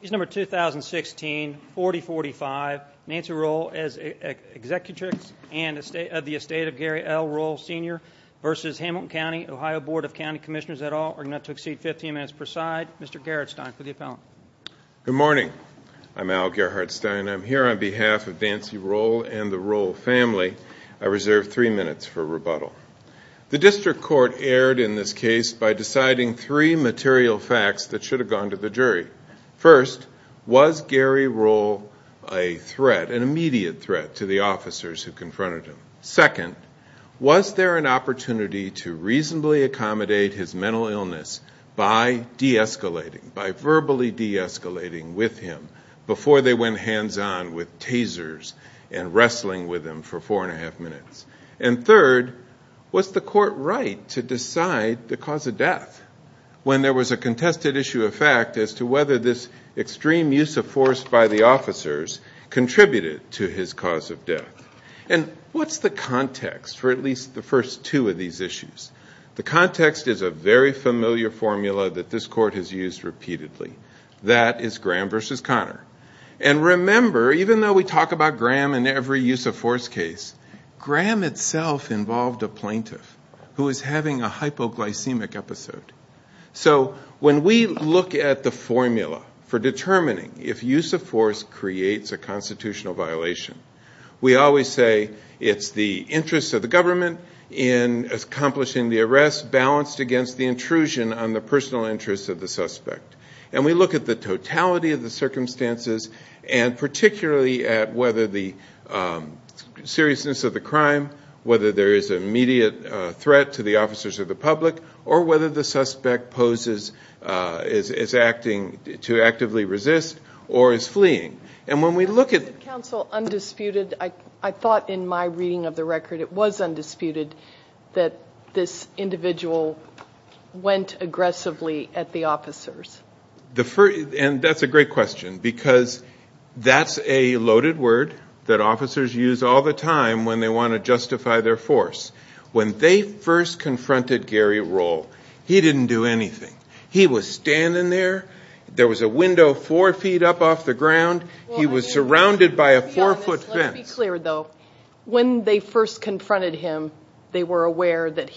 Case number 2016-4045, Nancy Roell as Executrix of the estate of Gary L. Roell Sr. v. Hamilton County, Ohio Board of County Commissioners et al. We're going to have to exceed 15 minutes per side. Mr. Gerhardstein for the appellant. Good morning. I'm Al Gerhardstein. I'm here on behalf of Nancy Roell and the Roell family. I reserve three minutes for rebuttal. The district court erred in this case by deciding three material facts that should have gone to the jury. First, was Gary Roell an immediate threat to the officers who confronted him? Second, was there an opportunity to reasonably accommodate his mental illness by verbally de-escalating with him before they went hands-on with tasers and wrestling with him for four and a half minutes? And third, was the court right to decide the cause of death when there was a contested issue of fact as to whether this extreme use of force by the officers contributed to his cause of death? And what's the context for at least the first two of these issues? The context is a very familiar formula that this court has used repeatedly. That is Graham v. Connor. And remember, even though we talk about Graham in every use of force case, Graham itself involved a plaintiff who is having a hypoglycemic episode. So when we look at the formula for determining if use of force creates a constitutional violation, we always say it's the interest of the government in accomplishing the arrest balanced against the intrusion on the personal interest of the suspect. And we look at the totality of the circumstances and particularly at whether the seriousness of the crime, whether there is an immediate threat to the officers or the public, or whether the suspect is acting to actively resist or is fleeing. Is the counsel undisputed? I thought in my reading of the record it was undisputed that this individual went aggressively at the officers. And that's a great question because that's a loaded word that officers use all the time when they want to justify their force. When they first confronted Gary Rohl, he didn't do anything. He was standing there. There was a window four feet up off the ground. He was surrounded by a four-foot fence. When they first confronted him, they were aware that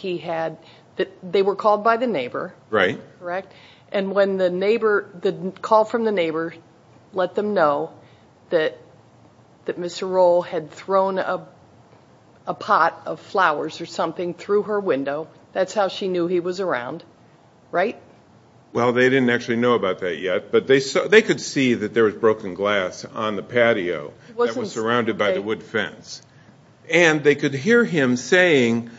they were called by the neighbor. And when the call from the neighbor let them know that Mr. Rohl had thrown a pot of flowers or something through her window, that's how she knew he was around, right? Well, they didn't actually know about that yet, but they could see that there was broken glass on the patio that was surrounded by the wood fence. And they could hear him saying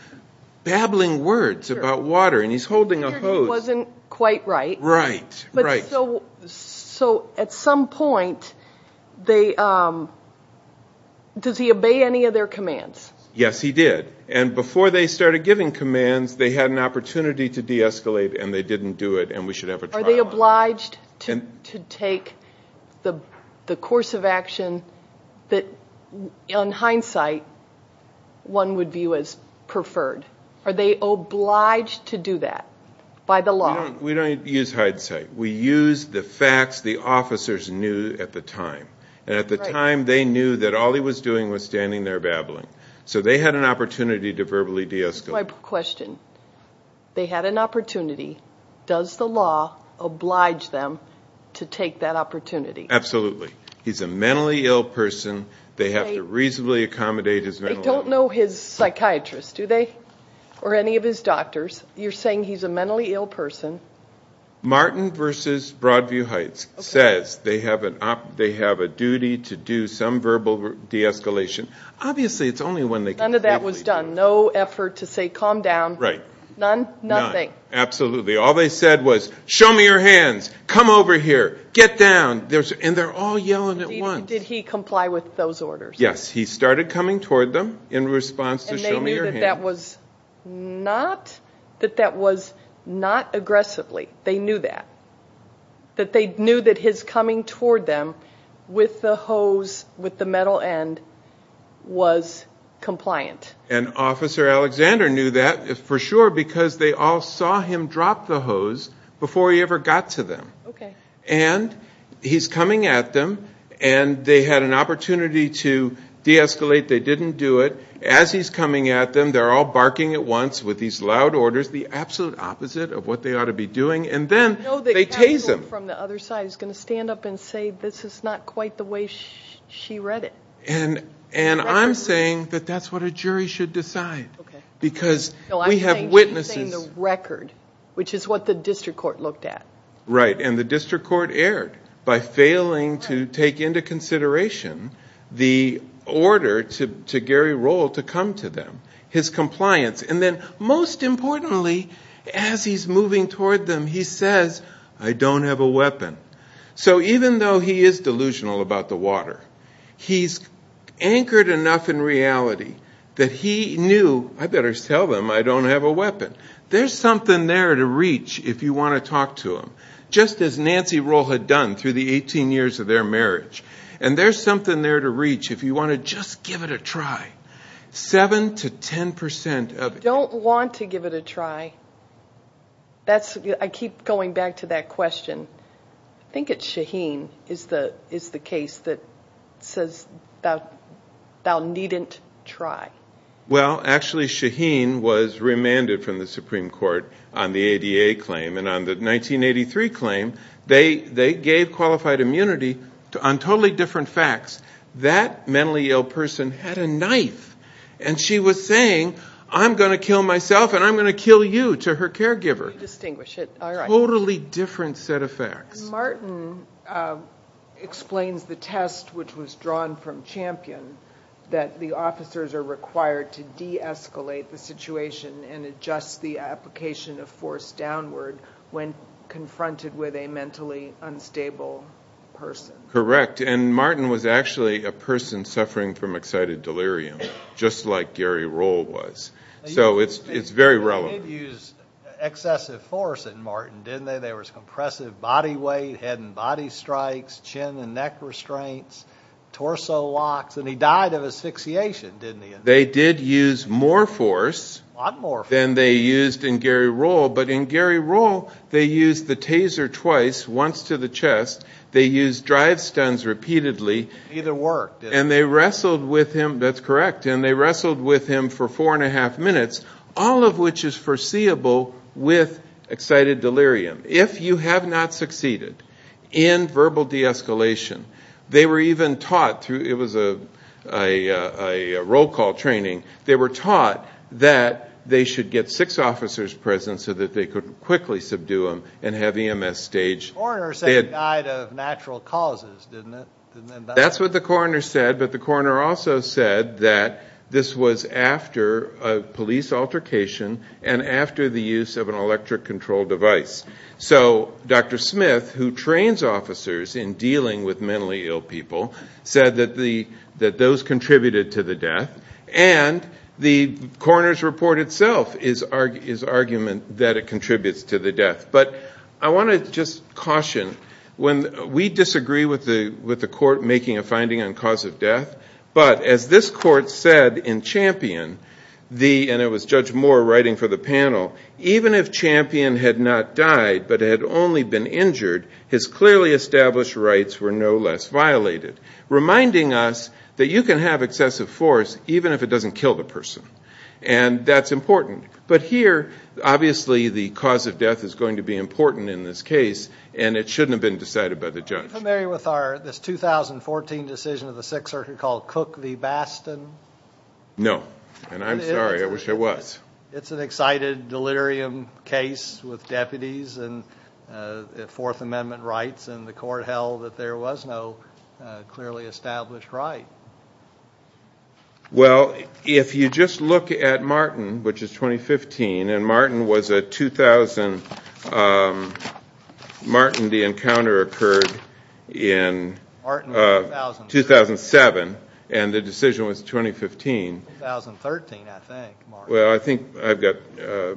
babbling words about water. And he's holding a hose. He wasn't quite right. Right, right. So at some point, does he obey any of their commands? Yes, he did. And before they started giving commands, they had an opportunity to de-escalate and they didn't do it and we should have a trial on that. Are they obliged to take the course of action that, in hindsight, one would view as preferred? Are they obliged to do that by the law? We don't use hindsight. We use the facts the officers knew at the time. And at the time, they knew that all he was doing was standing there babbling. So they had an opportunity to verbally de-escalate. That's my question. They had an opportunity. Does the law oblige them to take that opportunity? Absolutely. He's a mentally ill person. They have to reasonably accommodate his mental illness. They don't know his psychiatrist, do they? Or any of his doctors? You're saying he's a mentally ill person. Martin v. Broadview Heights says they have a duty to do some verbal de-escalation. Obviously, it's only when they completely do it. None of that was done. No effort to say, calm down. Right. None? Nothing. None. Absolutely. All they said was, show me your hands. Come over here. Get down. And they're all yelling at once. Did he comply with those orders? Yes. He started coming toward them in response to show me your hands. And they knew that that was not aggressively. They knew that. That they knew that his coming toward them with the hose, with the metal end, was compliant. And Officer Alexander knew that for sure because they all saw him drop the hose before he ever got to them. Okay. And he's coming at them, and they had an opportunity to de-escalate. They didn't do it. As he's coming at them, they're all barking at once with these loud orders, the absolute opposite of what they ought to be doing. And then they tase him. I know the counsel from the other side is going to stand up and say, this is not quite the way she read it. And I'm saying that that's what a jury should decide. Okay. Because we have witnesses. No, I'm saying she's saying the record, which is what the district court looked at. Right. And the district court erred by failing to take into consideration the order to Gary Roll to come to them, his compliance. And then most importantly, as he's moving toward them, he says, I don't have a weapon. So even though he is delusional about the water, he's anchored enough in reality that he knew, I better tell them I don't have a weapon. There's something there to reach if you want to talk to him, just as Nancy Roll had done through the 18 years of their marriage. And there's something there to reach if you want to just give it a try. Seven to ten percent of it. I don't want to give it a try. I keep going back to that question. I think it's Shaheen is the case that says thou needn't try. Well, actually, Shaheen was remanded from the Supreme Court on the ADA claim. And on the 1983 claim, they gave qualified immunity on totally different facts. That mentally ill person had a knife. And she was saying, I'm going to kill myself and I'm going to kill you, to her caregiver. Distinguish it. All right. Totally different set of facts. Martin explains the test which was drawn from Champion, that the officers are required to deescalate the situation and adjust the application of force downward when confronted with a mentally unstable person. Correct. And Martin was actually a person suffering from excited delirium, just like Gary Roll was. So it's very relevant. They did use excessive force in Martin, didn't they? There was compressive body weight, head and body strikes, chin and neck restraints, torso locks. And he died of asphyxiation, didn't he? They did use more force than they used in Gary Roll. But in Gary Roll, they used the taser twice, once to the chest. They used drive stuns repeatedly. Neither worked. And they wrestled with him. That's correct. And they wrestled with him for four and a half minutes, all of which is foreseeable with excited delirium. If you have not succeeded in verbal de-escalation, they were even taught through, it was a roll call training, they were taught that they should get six officers present so that they could quickly subdue him and have EMS staged. The coroner said he died of natural causes, didn't it? That's what the coroner said, but the coroner also said that this was after a police altercation and after the use of an electric control device. So Dr. Smith, who trains officers in dealing with mentally ill people, said that those contributed to the death. And the coroner's report itself is argument that it contributes to the death. But I want to just caution. We disagree with the court making a finding on cause of death, but as this court said in Champion, and it was Judge Moore writing for the panel, even if Champion had not died but had only been injured, his clearly established rights were no less violated, reminding us that you can have excessive force even if it doesn't kill the person. And that's important. But here, obviously the cause of death is going to be important in this case, and it shouldn't have been decided by the judge. Are you familiar with this 2014 decision of the Sixth Circuit called Cook v. Bastin? No. And I'm sorry, I wish I was. It's an excited delirium case with deputies and Fourth Amendment rights, and the court held that there was no clearly established right. Well, if you just look at Martin, which is 2015, and Martin was a 2000, Martin the encounter occurred in 2007, and the decision was 2015. 2013, I think, Martin.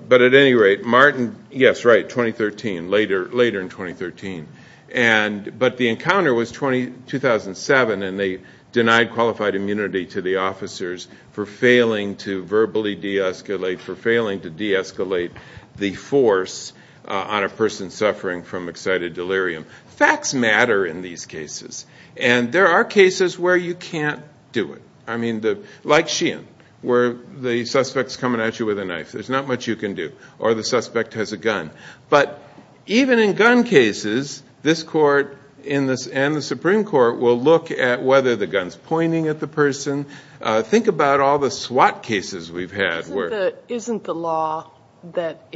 But at any rate, Martin, yes, right, 2013, later in 2013. But the encounter was 2007, and they denied qualified immunity to the officers for failing to verbally de-escalate, for failing to de-escalate the force on a person suffering from excited delirium. Facts matter in these cases, and there are cases where you can't do it. I mean, like Sheehan, where the suspect's coming at you with a knife. There's not much you can do. Or the suspect has a gun. But even in gun cases, this court and the Supreme Court will look at whether the gun's pointing at the person. Think about all the SWAT cases we've had. Isn't the law that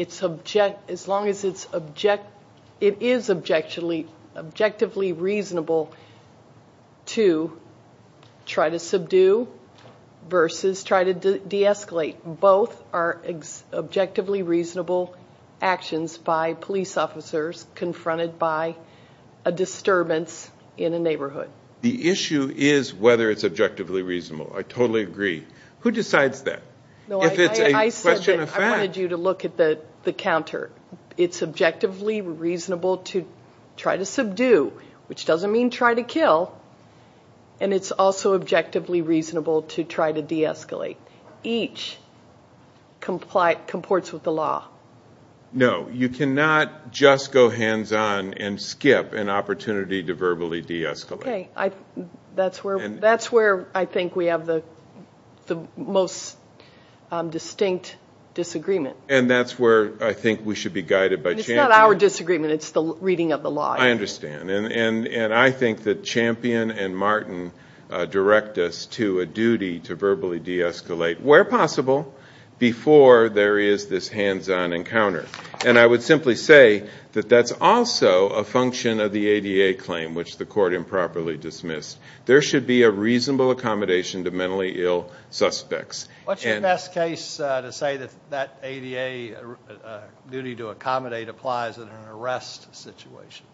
as long as it is objectively reasonable to try to subdue versus try to de-escalate? Both are objectively reasonable actions by police officers confronted by a disturbance in a neighborhood. The issue is whether it's objectively reasonable. I totally agree. Who decides that? If it's a question of fact. I said that I wanted you to look at the counter. It's objectively reasonable to try to subdue, which doesn't mean try to kill, and it's also objectively reasonable to try to de-escalate. Each comports with the law. No, you cannot just go hands-on and skip an opportunity to verbally de-escalate. Okay. That's where I think we have the most distinct disagreement. And that's where I think we should be guided by Champion. It's not our disagreement. It's the reading of the law. I understand. And I think that Champion and Martin direct us to a duty to verbally de-escalate, where possible, before there is this hands-on encounter. And I would simply say that that's also a function of the ADA claim, which the court improperly dismissed. There should be a reasonable accommodation to mentally ill suspects. What's your best case to say that that ADA duty to accommodate applies in an arrest situation?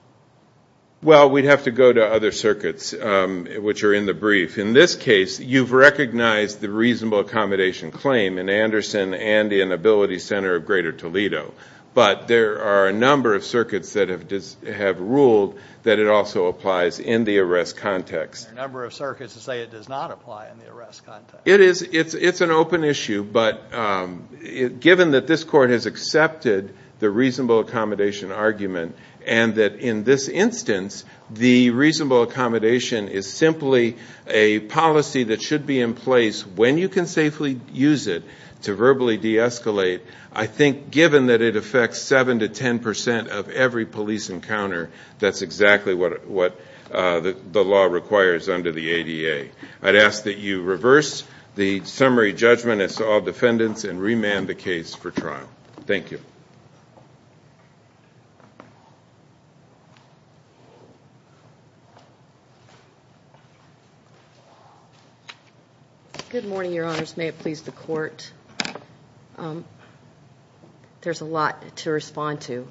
Well, we'd have to go to other circuits, which are in the brief. In this case, you've recognized the reasonable accommodation claim in Anderson, Andy, and Ability Center of Greater Toledo. But there are a number of circuits that have ruled that it also applies in the arrest context. There are a number of circuits that say it does not apply in the arrest context. It's an open issue. But given that this court has accepted the reasonable accommodation argument and that in this instance the reasonable accommodation is simply a policy that should be in place when you can safely use it to verbally de-escalate, I think given that it affects 7% to 10% of every police encounter, that's exactly what the law requires under the ADA. I'd ask that you reverse the summary judgment as to all defendants and remand the case for trial. Thank you. Good morning, Your Honors. May it please the Court. There's a lot to respond to.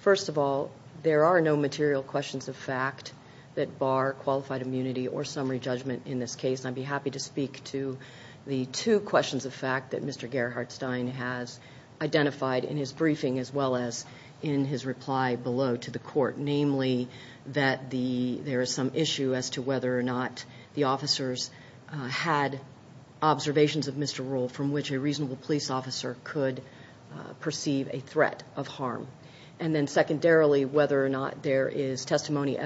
First of all, there are no material questions of fact that bar qualified immunity or summary judgment in this case. I'd be happy to speak to the two questions of fact that Mr. Gerhardstein has identified in his briefing as well as in his reply below to the Court, namely that there is some issue as to whether or not the officers had observations of Mr. Rule from which a reasonable police officer could perceive a threat of harm. And then secondarily, whether or not there is testimonial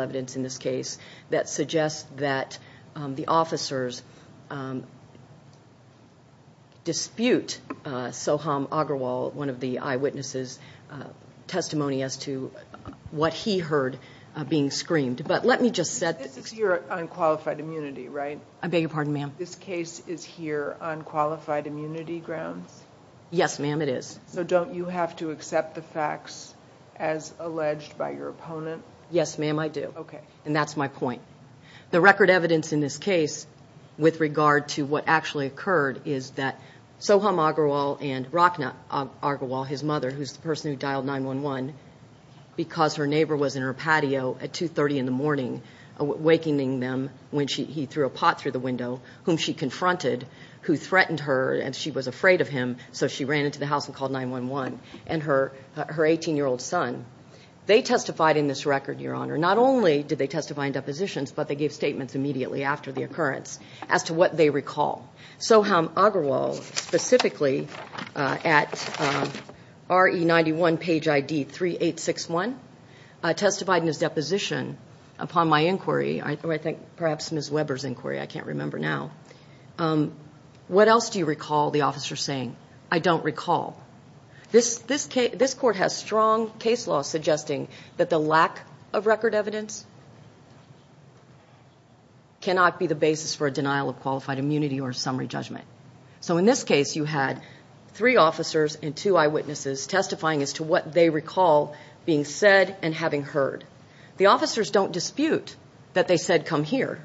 evidence in this case that suggests that the officers dispute Soham Agrawal, one of the eyewitnesses' testimony as to what he heard being screamed. But let me just set this. This is your unqualified immunity, right? I beg your pardon, ma'am. This case is here on qualified immunity grounds? Yes, ma'am, it is. So don't you have to accept the facts as alleged by your opponent? Yes, ma'am, I do. Okay, and that's my point. The record evidence in this case with regard to what actually occurred is that Soham Agrawal and Rakhna Agrawal, his mother, who's the person who dialed 911 because her neighbor was in her patio at 2.30 in the morning, awakening them when he threw a pot through the window, whom she confronted, who threatened her and she was afraid of him, so she ran into the house and called 911, and her 18-year-old son. They testified in this record, Your Honor. Not only did they testify in depositions, but they gave statements immediately after the occurrence as to what they recall. Soham Agrawal specifically at RE91 page ID 3861 testified in his deposition upon my inquiry, I think perhaps Ms. Weber's inquiry, I can't remember now. What else do you recall the officer saying? I don't recall. This court has strong case law suggesting that the lack of record evidence cannot be the basis for a denial of qualified immunity or summary judgment. So in this case, you had three officers and two eyewitnesses testifying as to what they recall being said and having heard. The officers don't dispute that they said, come here.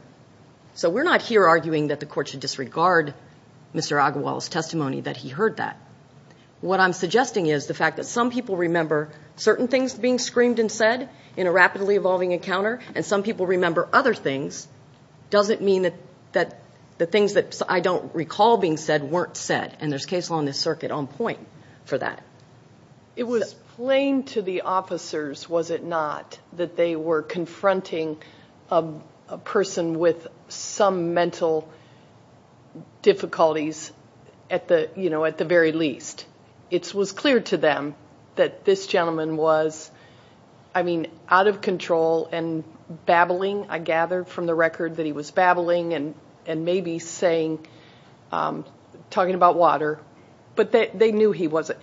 So we're not here arguing that the court should disregard Mr. Agrawal's testimony, that he heard that. What I'm suggesting is the fact that some people remember certain things being screamed and said in a rapidly evolving encounter, and some people remember other things, doesn't mean that the things that I don't recall being said weren't said, and there's case law in this circuit on point for that. It was plain to the officers, was it not, that they were confronting a person with some mental difficulties at the very least. It was clear to them that this gentleman was, I mean, out of control and babbling, I gather from the record that he was babbling and maybe talking about water, but they knew he wasn't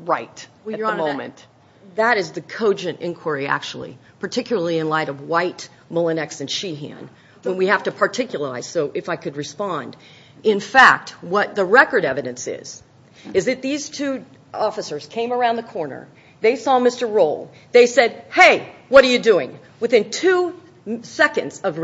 right at the moment. That is the cogent inquiry, actually, particularly in light of White, Mullinex, and Sheehan. We have to particularize, so if I could respond. In fact, what the record evidence is, is that these two officers came around the corner. They saw Mr. Roll. They said, hey, what are you doing? Within two seconds of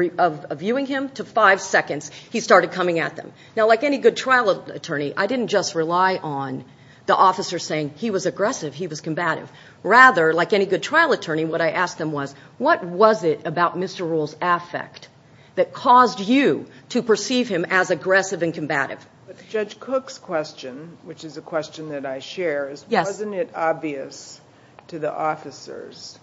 viewing him to five seconds, he started coming at them. Now, like any good trial attorney, I didn't just rely on the officer saying he was aggressive, he was combative. Rather, like any good trial attorney, what I asked them was, what was it about Mr. Roll's affect that caused you to perceive him as aggressive and combative? Judge Cook's question, which is a question that I share, is wasn't it obvious to the officers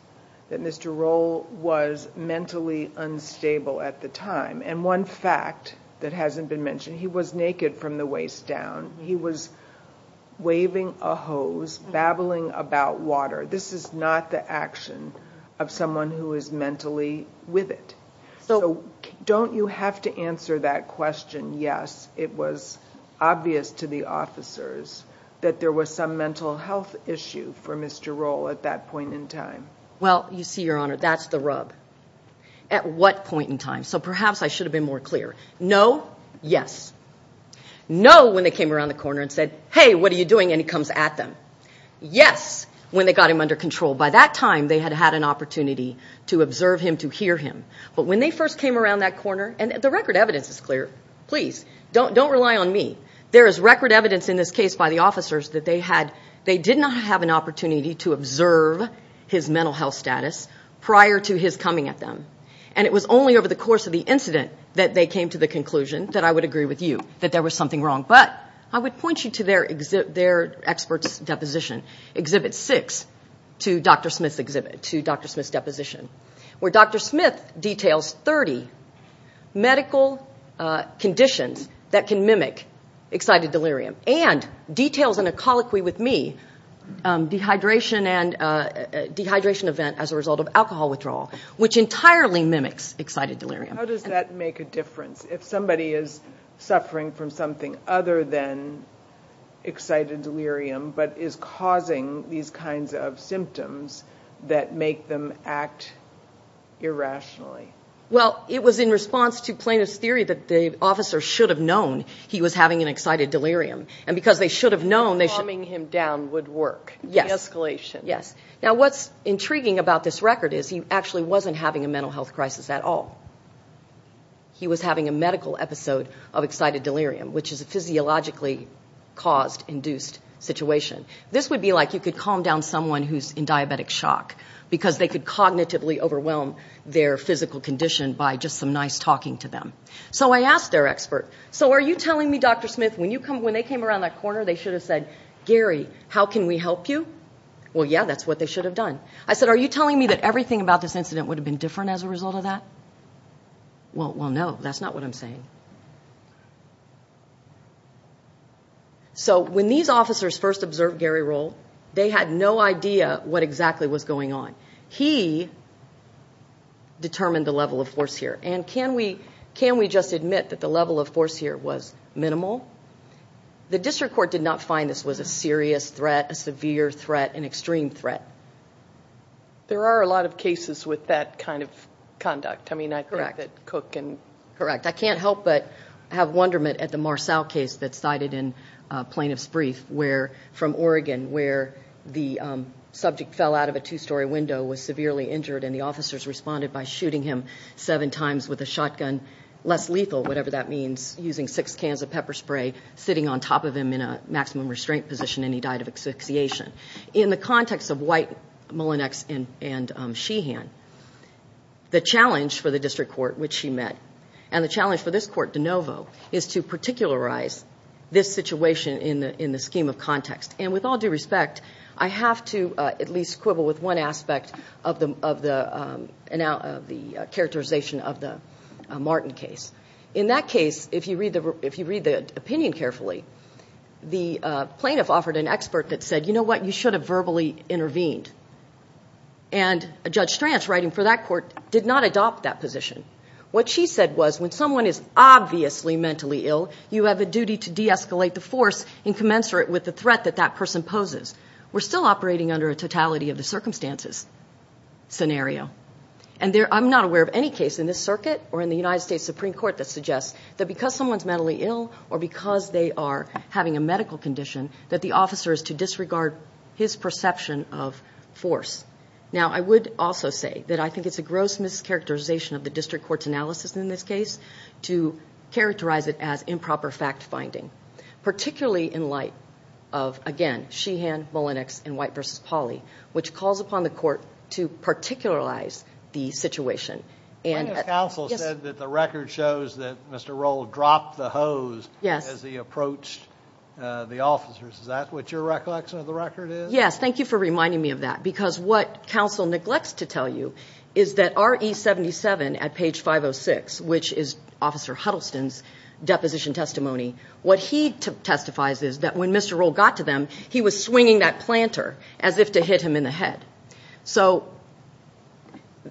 that Mr. Roll was mentally unstable at the time? And one fact that hasn't been mentioned, he was naked from the waist down. He was waving a hose, babbling about water. This is not the action of someone who is mentally with it. So don't you have to answer that question, yes, it was obvious to the officers that there was some mental health issue for Mr. Roll at that point in time? Well, you see, Your Honor, that's the rub. At what point in time? So perhaps I should have been more clear. No, yes. No, when they came around the corner and said, hey, what are you doing, and he comes at them. Yes, when they got him under control. By that time, they had had an opportunity to observe him, to hear him. But when they first came around that corner, and the record evidence is clear. Please, don't rely on me. There is record evidence in this case by the officers that they did not have an opportunity to observe his mental health status prior to his coming at them. And it was only over the course of the incident that they came to the conclusion that I would agree with you, that there was something wrong. But I would point you to their expert's deposition, Exhibit 6, to Dr. Smith's deposition, where Dr. Smith details 30 medical conditions that can mimic excited delirium and details in a colloquy with me, dehydration event as a result of alcohol withdrawal, which entirely mimics excited delirium. How does that make a difference? If somebody is suffering from something other than excited delirium, but is causing these kinds of symptoms that make them act irrationally? Well, it was in response to plaintiff's theory that the officer should have known he was having an excited delirium. And because they should have known, they should have known. Calming him down would work. Yes. De-escalation. Yes. Now, what's intriguing about this record is he actually wasn't having a mental health crisis at all. He was having a medical episode of excited delirium, which is a physiologically caused, induced situation. This would be like you could calm down someone who's in diabetic shock, because they could cognitively overwhelm their physical condition by just some nice talking to them. So I asked their expert, so are you telling me, Dr. Smith, when they came around that corner they should have said, Gary, how can we help you? Well, yeah, that's what they should have done. I said, are you telling me that everything about this incident would have been different as a result of that? Well, no, that's not what I'm saying. So when these officers first observed Gary Roll, they had no idea what exactly was going on. He determined the level of force here. And can we just admit that the level of force here was minimal? The district court did not find this was a serious threat, a severe threat, an extreme threat. There are a lot of cases with that kind of conduct. I mean, I think that Cook and – Correct. I can't help but have wonderment at the Marsau case that's cited in plaintiff's brief from Oregon, where the subject fell out of a two-story window, was severely injured, and the officers responded by shooting him seven times with a shotgun, less lethal, whatever that means, using six cans of pepper spray, sitting on top of him in a maximum restraint position, and he died of asphyxiation. In the context of White, Mullinex, and Sheehan, the challenge for the district court, which she met, and the challenge for this court, DeNovo, is to particularize this situation in the scheme of context. And with all due respect, I have to at least quibble with one aspect of the characterization of the Martin case. In that case, if you read the opinion carefully, the plaintiff offered an expert that said, you know what, you should have verbally intervened. And Judge Stranz, writing for that court, did not adopt that position. What she said was when someone is obviously mentally ill, you have a duty to de-escalate the force in commensurate with the threat that that person poses. We're still operating under a totality of the circumstances scenario. And I'm not aware of any case in this circuit or in the United States Supreme Court that suggests that because someone's mentally ill or because they are having a medical condition, that the officer is to disregard his perception of force. Now, I would also say that I think it's a gross mischaracterization of the district court's analysis in this case to characterize it as improper fact-finding, particularly in light of, again, Sheehan, Mullenix, and White v. Pauley, which calls upon the court to particularize the situation. Plaintiff's counsel said that the record shows that Mr. Roll dropped the hose as he approached the officers. Is that what your recollection of the record is? Yes. Thank you for reminding me of that. Because what counsel neglects to tell you is that R.E. 77 at page 506, which is Officer Huddleston's deposition testimony, what he testifies is that when Mr. Roll got to them, he was swinging that planter as if to hit him in the head. So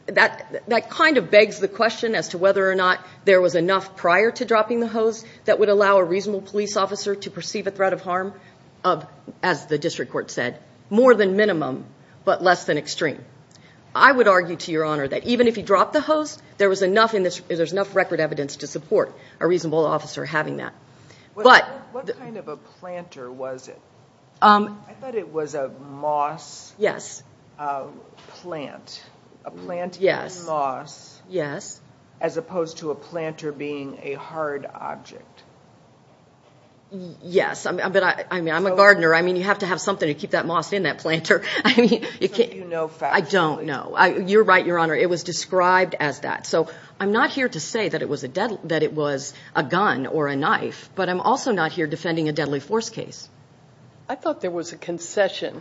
that kind of begs the question as to whether or not there was enough prior to dropping the hose that would allow a reasonable police officer to perceive a threat of harm, as the district court said, more than minimum but less than extreme. I would argue, to your honor, that even if he dropped the hose, there was enough record evidence to support a reasonable officer having that. What kind of a planter was it? I thought it was a moss plant. Yes. As opposed to a planter being a hard object. Yes. I'm a gardener. You have to have something to keep that moss in that planter. Something you know factually. I don't know. You're right, your honor. It was described as that. So I'm not here to say that it was a gun or a knife, but I'm also not here defending a deadly force case. I thought there was a concession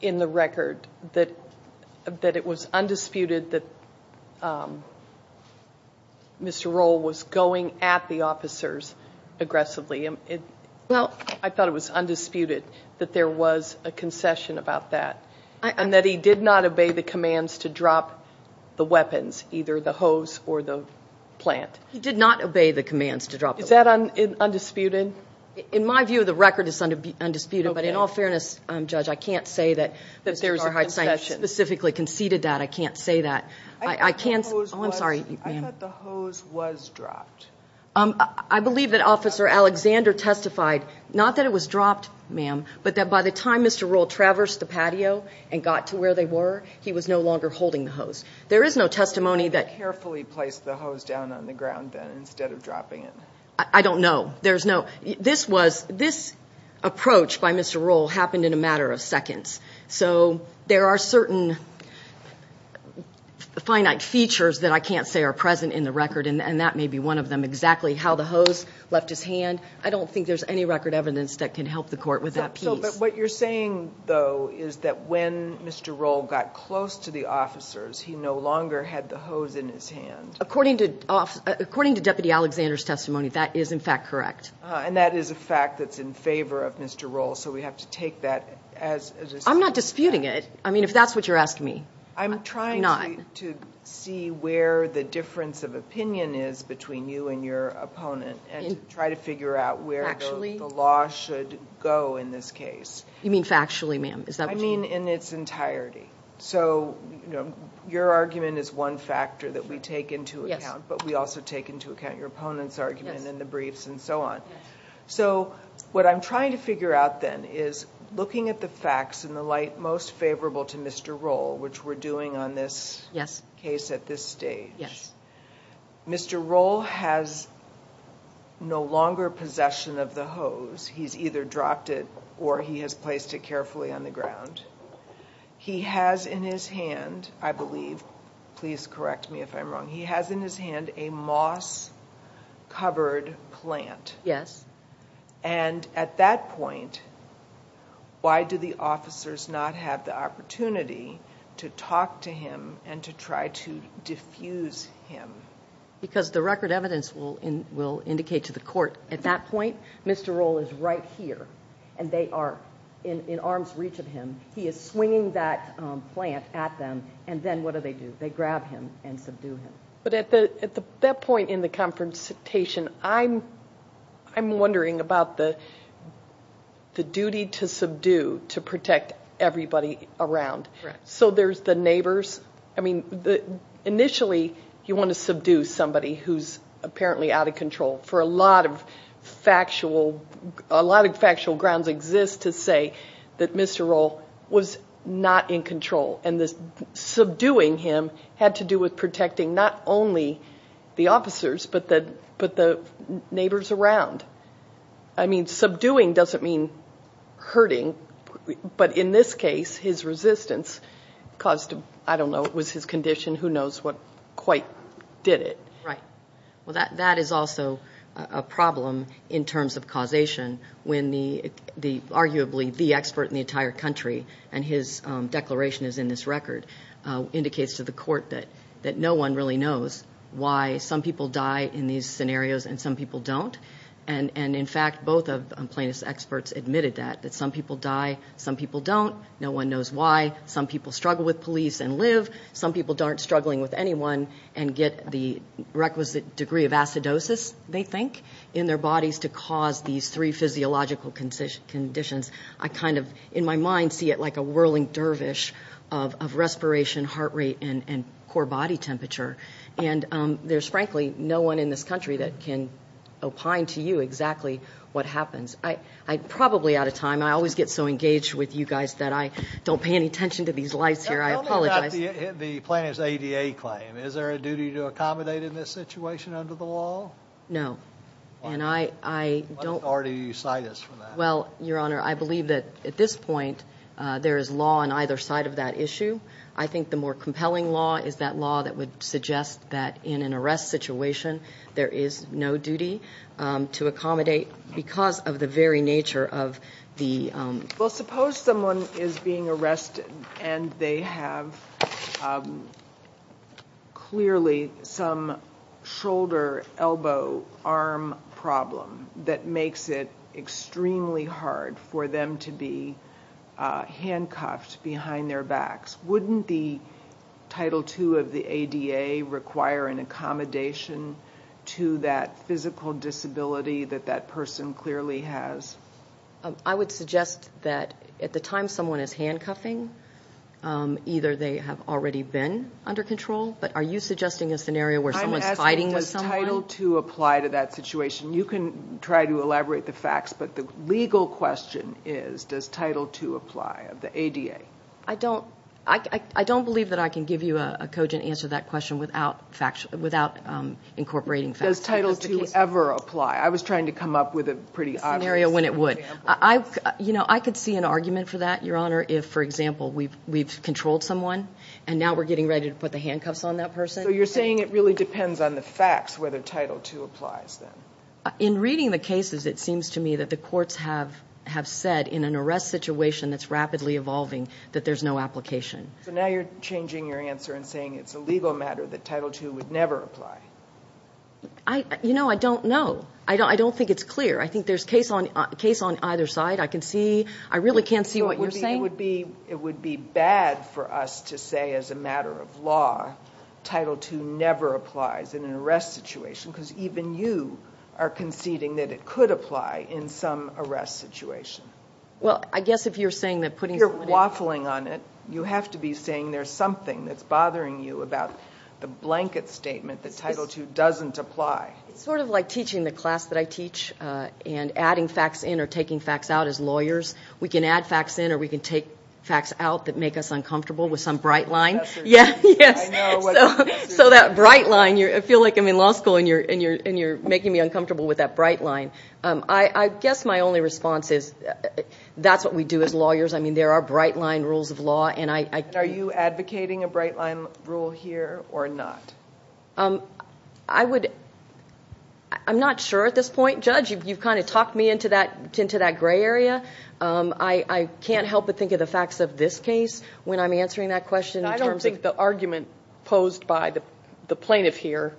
in the record that it was undisputed that Mr. Roll was going at the officers aggressively. I thought it was undisputed that there was a concession about that, and that he did not obey the commands to drop the weapons, either the hose or the plant. He did not obey the commands to drop the weapons. Is that undisputed? In my view, the record is undisputed, but in all fairness, Judge, I can't say that there was a concession, specifically conceded that. I can't say that. I thought the hose was dropped. I believe that Officer Alexander testified, not that it was dropped, ma'am, but that by the time Mr. Roll traversed the patio and got to where they were, he was no longer holding the hose. There is no testimony that… He carefully placed the hose down on the ground, then, instead of dropping it. I don't know. This approach by Mr. Roll happened in a matter of seconds, so there are certain finite features that I can't say are present in the record, and that may be one of them, exactly how the hose left his hand. I don't think there's any record evidence that can help the Court with that piece. But what you're saying, though, is that when Mr. Roll got close to the officers, he no longer had the hose in his hand. According to Deputy Alexander's testimony, that is, in fact, correct. And that is a fact that's in favor of Mr. Roll, so we have to take that as… I'm not disputing it. I mean, if that's what you're asking me, I'm not. I'm trying to see where the difference of opinion is between you and your opponent and try to figure out where the law should go in this case. You mean factually, ma'am? I mean in its entirety. So your argument is one factor that we take into account, but we also take into account your opponent's argument and the briefs and so on. So what I'm trying to figure out, then, is looking at the facts in the light most favorable to Mr. Roll, which we're doing on this case at this stage, Mr. Roll has no longer possession of the hose. He's either dropped it or he has placed it carefully on the ground. He has in his hand, I believe, please correct me if I'm wrong, he has in his hand a moss-covered plant. Yes. And at that point, why do the officers not have the opportunity to talk to him and to try to diffuse him? Because the record evidence will indicate to the court at that point, Mr. Roll is right here, and they are in arm's reach of him. He is swinging that plant at them, and then what do they do? They grab him and subdue him. But at that point in the confrontation, I'm wondering about the duty to subdue, to protect everybody around. Correct. And so there's the neighbors. I mean, initially, you want to subdue somebody who's apparently out of control, for a lot of factual grounds exist to say that Mr. Roll was not in control, and subduing him had to do with protecting not only the officers but the neighbors around. I mean, subduing doesn't mean hurting, but in this case, his resistance caused, I don't know, it was his condition, who knows what quite did it. Right. Well, that is also a problem in terms of causation, when arguably the expert in the entire country, and his declaration is in this record, indicates to the court that no one really knows why some people die in these scenarios and some people don't. And, in fact, both of Plaintiff's experts admitted that, that some people die, some people don't, no one knows why. Some people struggle with police and live. Some people aren't struggling with anyone and get the requisite degree of acidosis, they think, in their bodies to cause these three physiological conditions. I kind of, in my mind, see it like a whirling dervish of respiration, heart rate, and core body temperature. And there's, frankly, no one in this country that can opine to you exactly what happens. I'm probably out of time. I always get so engaged with you guys that I don't pay any attention to these lights here. I apologize. Tell me about the Plaintiff's ADA claim. Is there a duty to accommodate in this situation under the law? No. And I don't. What authority do you cite us for that? Well, Your Honor, I believe that at this point there is law on either side of that issue. I think the more compelling law is that law that would suggest that in an arrest situation, there is no duty to accommodate because of the very nature of the... Well, suppose someone is being arrested and they have clearly some shoulder, elbow, arm problem that makes it extremely hard for them to be handcuffed behind their backs. Wouldn't the Title II of the ADA require an accommodation to that physical disability that that person clearly has? I would suggest that at the time someone is handcuffing, either they have already been under control. But are you suggesting a scenario where someone is fighting with someone? I'm asking, does Title II apply to that situation? You can try to elaborate the facts, but the legal question is, does Title II apply of the ADA? I don't believe that I can give you a cogent answer to that question without incorporating facts. Does Title II ever apply? I was trying to come up with a pretty obvious example. A scenario when it would. I could see an argument for that, Your Honor, if, for example, we've controlled someone and now we're getting ready to put the handcuffs on that person. So you're saying it really depends on the facts whether Title II applies then? In reading the cases, it seems to me that the courts have said in an arrest situation that's rapidly evolving that there's no application. So now you're changing your answer and saying it's a legal matter that Title II would never apply. You know, I don't know. I don't think it's clear. I think there's case on either side. I can see. I really can't see what you're saying. It would be bad for us to say as a matter of law, Title II never applies in an arrest situation because even you are conceding that it could apply in some arrest situation. Well, I guess if you're saying that putting someone in. If you're waffling on it, you have to be saying there's something that's bothering you about the blanket statement that Title II doesn't apply. It's sort of like teaching the class that I teach and adding facts in or taking facts out as lawyers. We can add facts in or we can take facts out that make us uncomfortable with some bright line. So that bright line, I feel like I'm in law school and you're making me uncomfortable with that bright line. I guess my only response is that's what we do as lawyers. I mean, there are bright line rules of law. Are you advocating a bright line rule here or not? I'm not sure at this point. Judge, you've kind of talked me into that gray area. I can't help but think of the facts of this case when I'm answering that question. I don't think the argument posed by the plaintiff here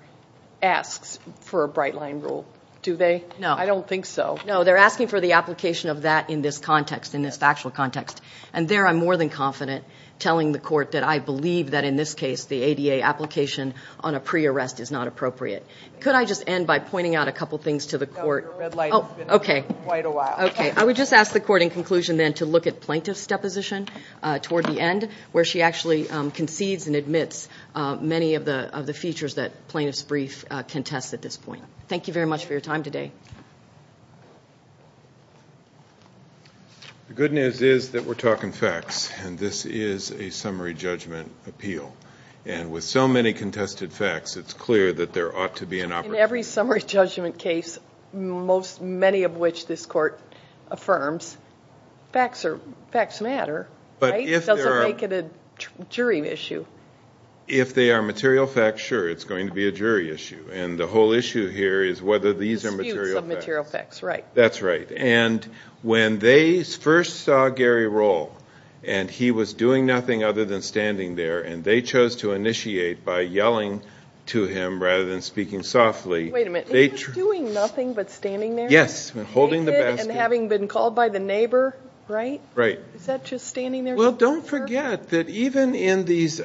asks for a bright line rule, do they? No. I don't think so. No, they're asking for the application of that in this context, in this factual context. And there I'm more than confident telling the court that I believe that in this case the ADA application on a pre-arrest is not appropriate. Could I just end by pointing out a couple things to the court? No, your red light has been on for quite a while. Okay. I would just ask the court in conclusion then to look at plaintiff's deposition toward the end, where she actually concedes and admits many of the features that plaintiff's brief contests at this point. Thank you very much for your time today. Thank you. The good news is that we're talking facts, and this is a summary judgment appeal. And with so many contested facts, it's clear that there ought to be an opportunity. In every summary judgment case, many of which this court affirms, facts matter, right? It doesn't make it a jury issue. If they are material facts, sure, it's going to be a jury issue. And the whole issue here is whether these are material facts. Disputes of material facts, right. That's right. And when they first saw Gary Rohl, and he was doing nothing other than standing there, and they chose to initiate by yelling to him rather than speaking softly. Wait a minute, he was doing nothing but standing there? Yes, holding the basket. Naked and having been called by the neighbor, right? Right. Is that just standing there? Well, don't forget that even in these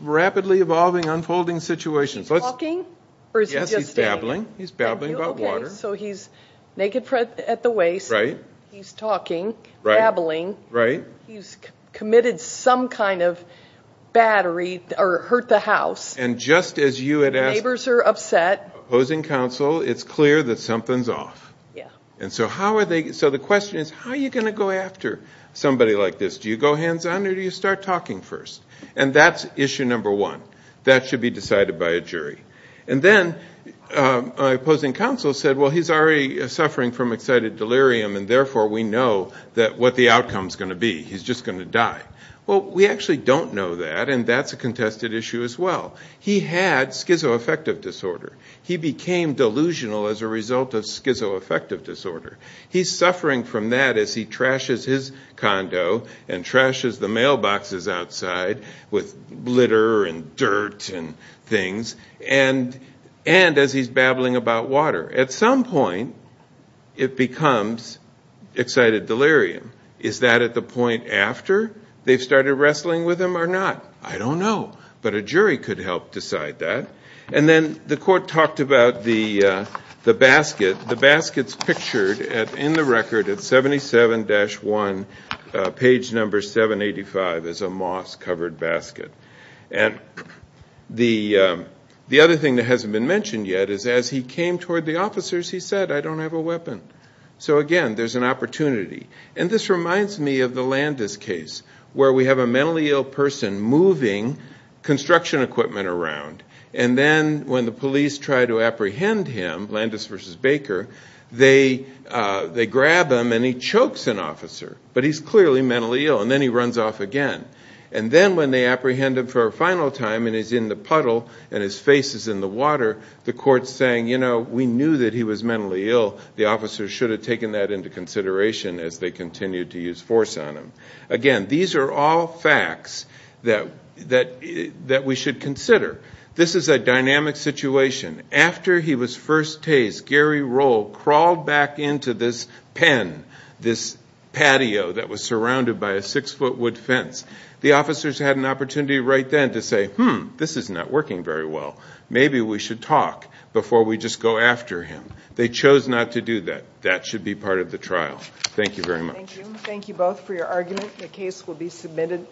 rapidly evolving, unfolding situations. He's talking? Yes, he's babbling. He's babbling about water. Okay, so he's naked at the waist. Right. He's talking. Right. Babbling. Right. He's committed some kind of bad, or he hurt the house. And just as you had asked. The neighbors are upset. Opposing counsel, it's clear that something's off. Yeah. And so how are they, so the question is, how are you going to go after somebody like this? Do you go hands on, or do you start talking first? And that's issue number one. That should be decided by a jury. And then my opposing counsel said, well, he's already suffering from excited delirium, and therefore we know what the outcome's going to be. He's just going to die. Well, we actually don't know that, and that's a contested issue as well. He had schizoaffective disorder. He became delusional as a result of schizoaffective disorder. He's suffering from that as he trashes his condo and trashes the mailboxes outside with litter and dirt and things, and as he's babbling about water. At some point, it becomes excited delirium. Is that at the point after they've started wrestling with him or not? I don't know. But a jury could help decide that. And then the court talked about the basket. The basket's pictured in the record at 77-1, page number 785, as a moss-covered basket. And the other thing that hasn't been mentioned yet is as he came toward the officers, he said, I don't have a weapon. So, again, there's an opportunity. And this reminds me of the Landis case where we have a mentally ill person moving construction equipment around, and then when the police try to apprehend him, Landis v. Baker, they grab him and he chokes an officer. But he's clearly mentally ill, and then he runs off again. And then when they apprehend him for a final time and he's in the puddle and his face is in the water, the court's saying, you know, we knew that he was mentally ill. The officers should have taken that into consideration as they continued to use force on him. Again, these are all facts that we should consider. This is a dynamic situation. After he was first tased, Gary Roll crawled back into this pen, this patio that was surrounded by a six-foot wood fence. The officers had an opportunity right then to say, hmm, this is not working very well. Maybe we should talk before we just go after him. They chose not to do that. That should be part of the trial. Thank you very much. Thank you. Thank you both for your argument. The case will be submitted.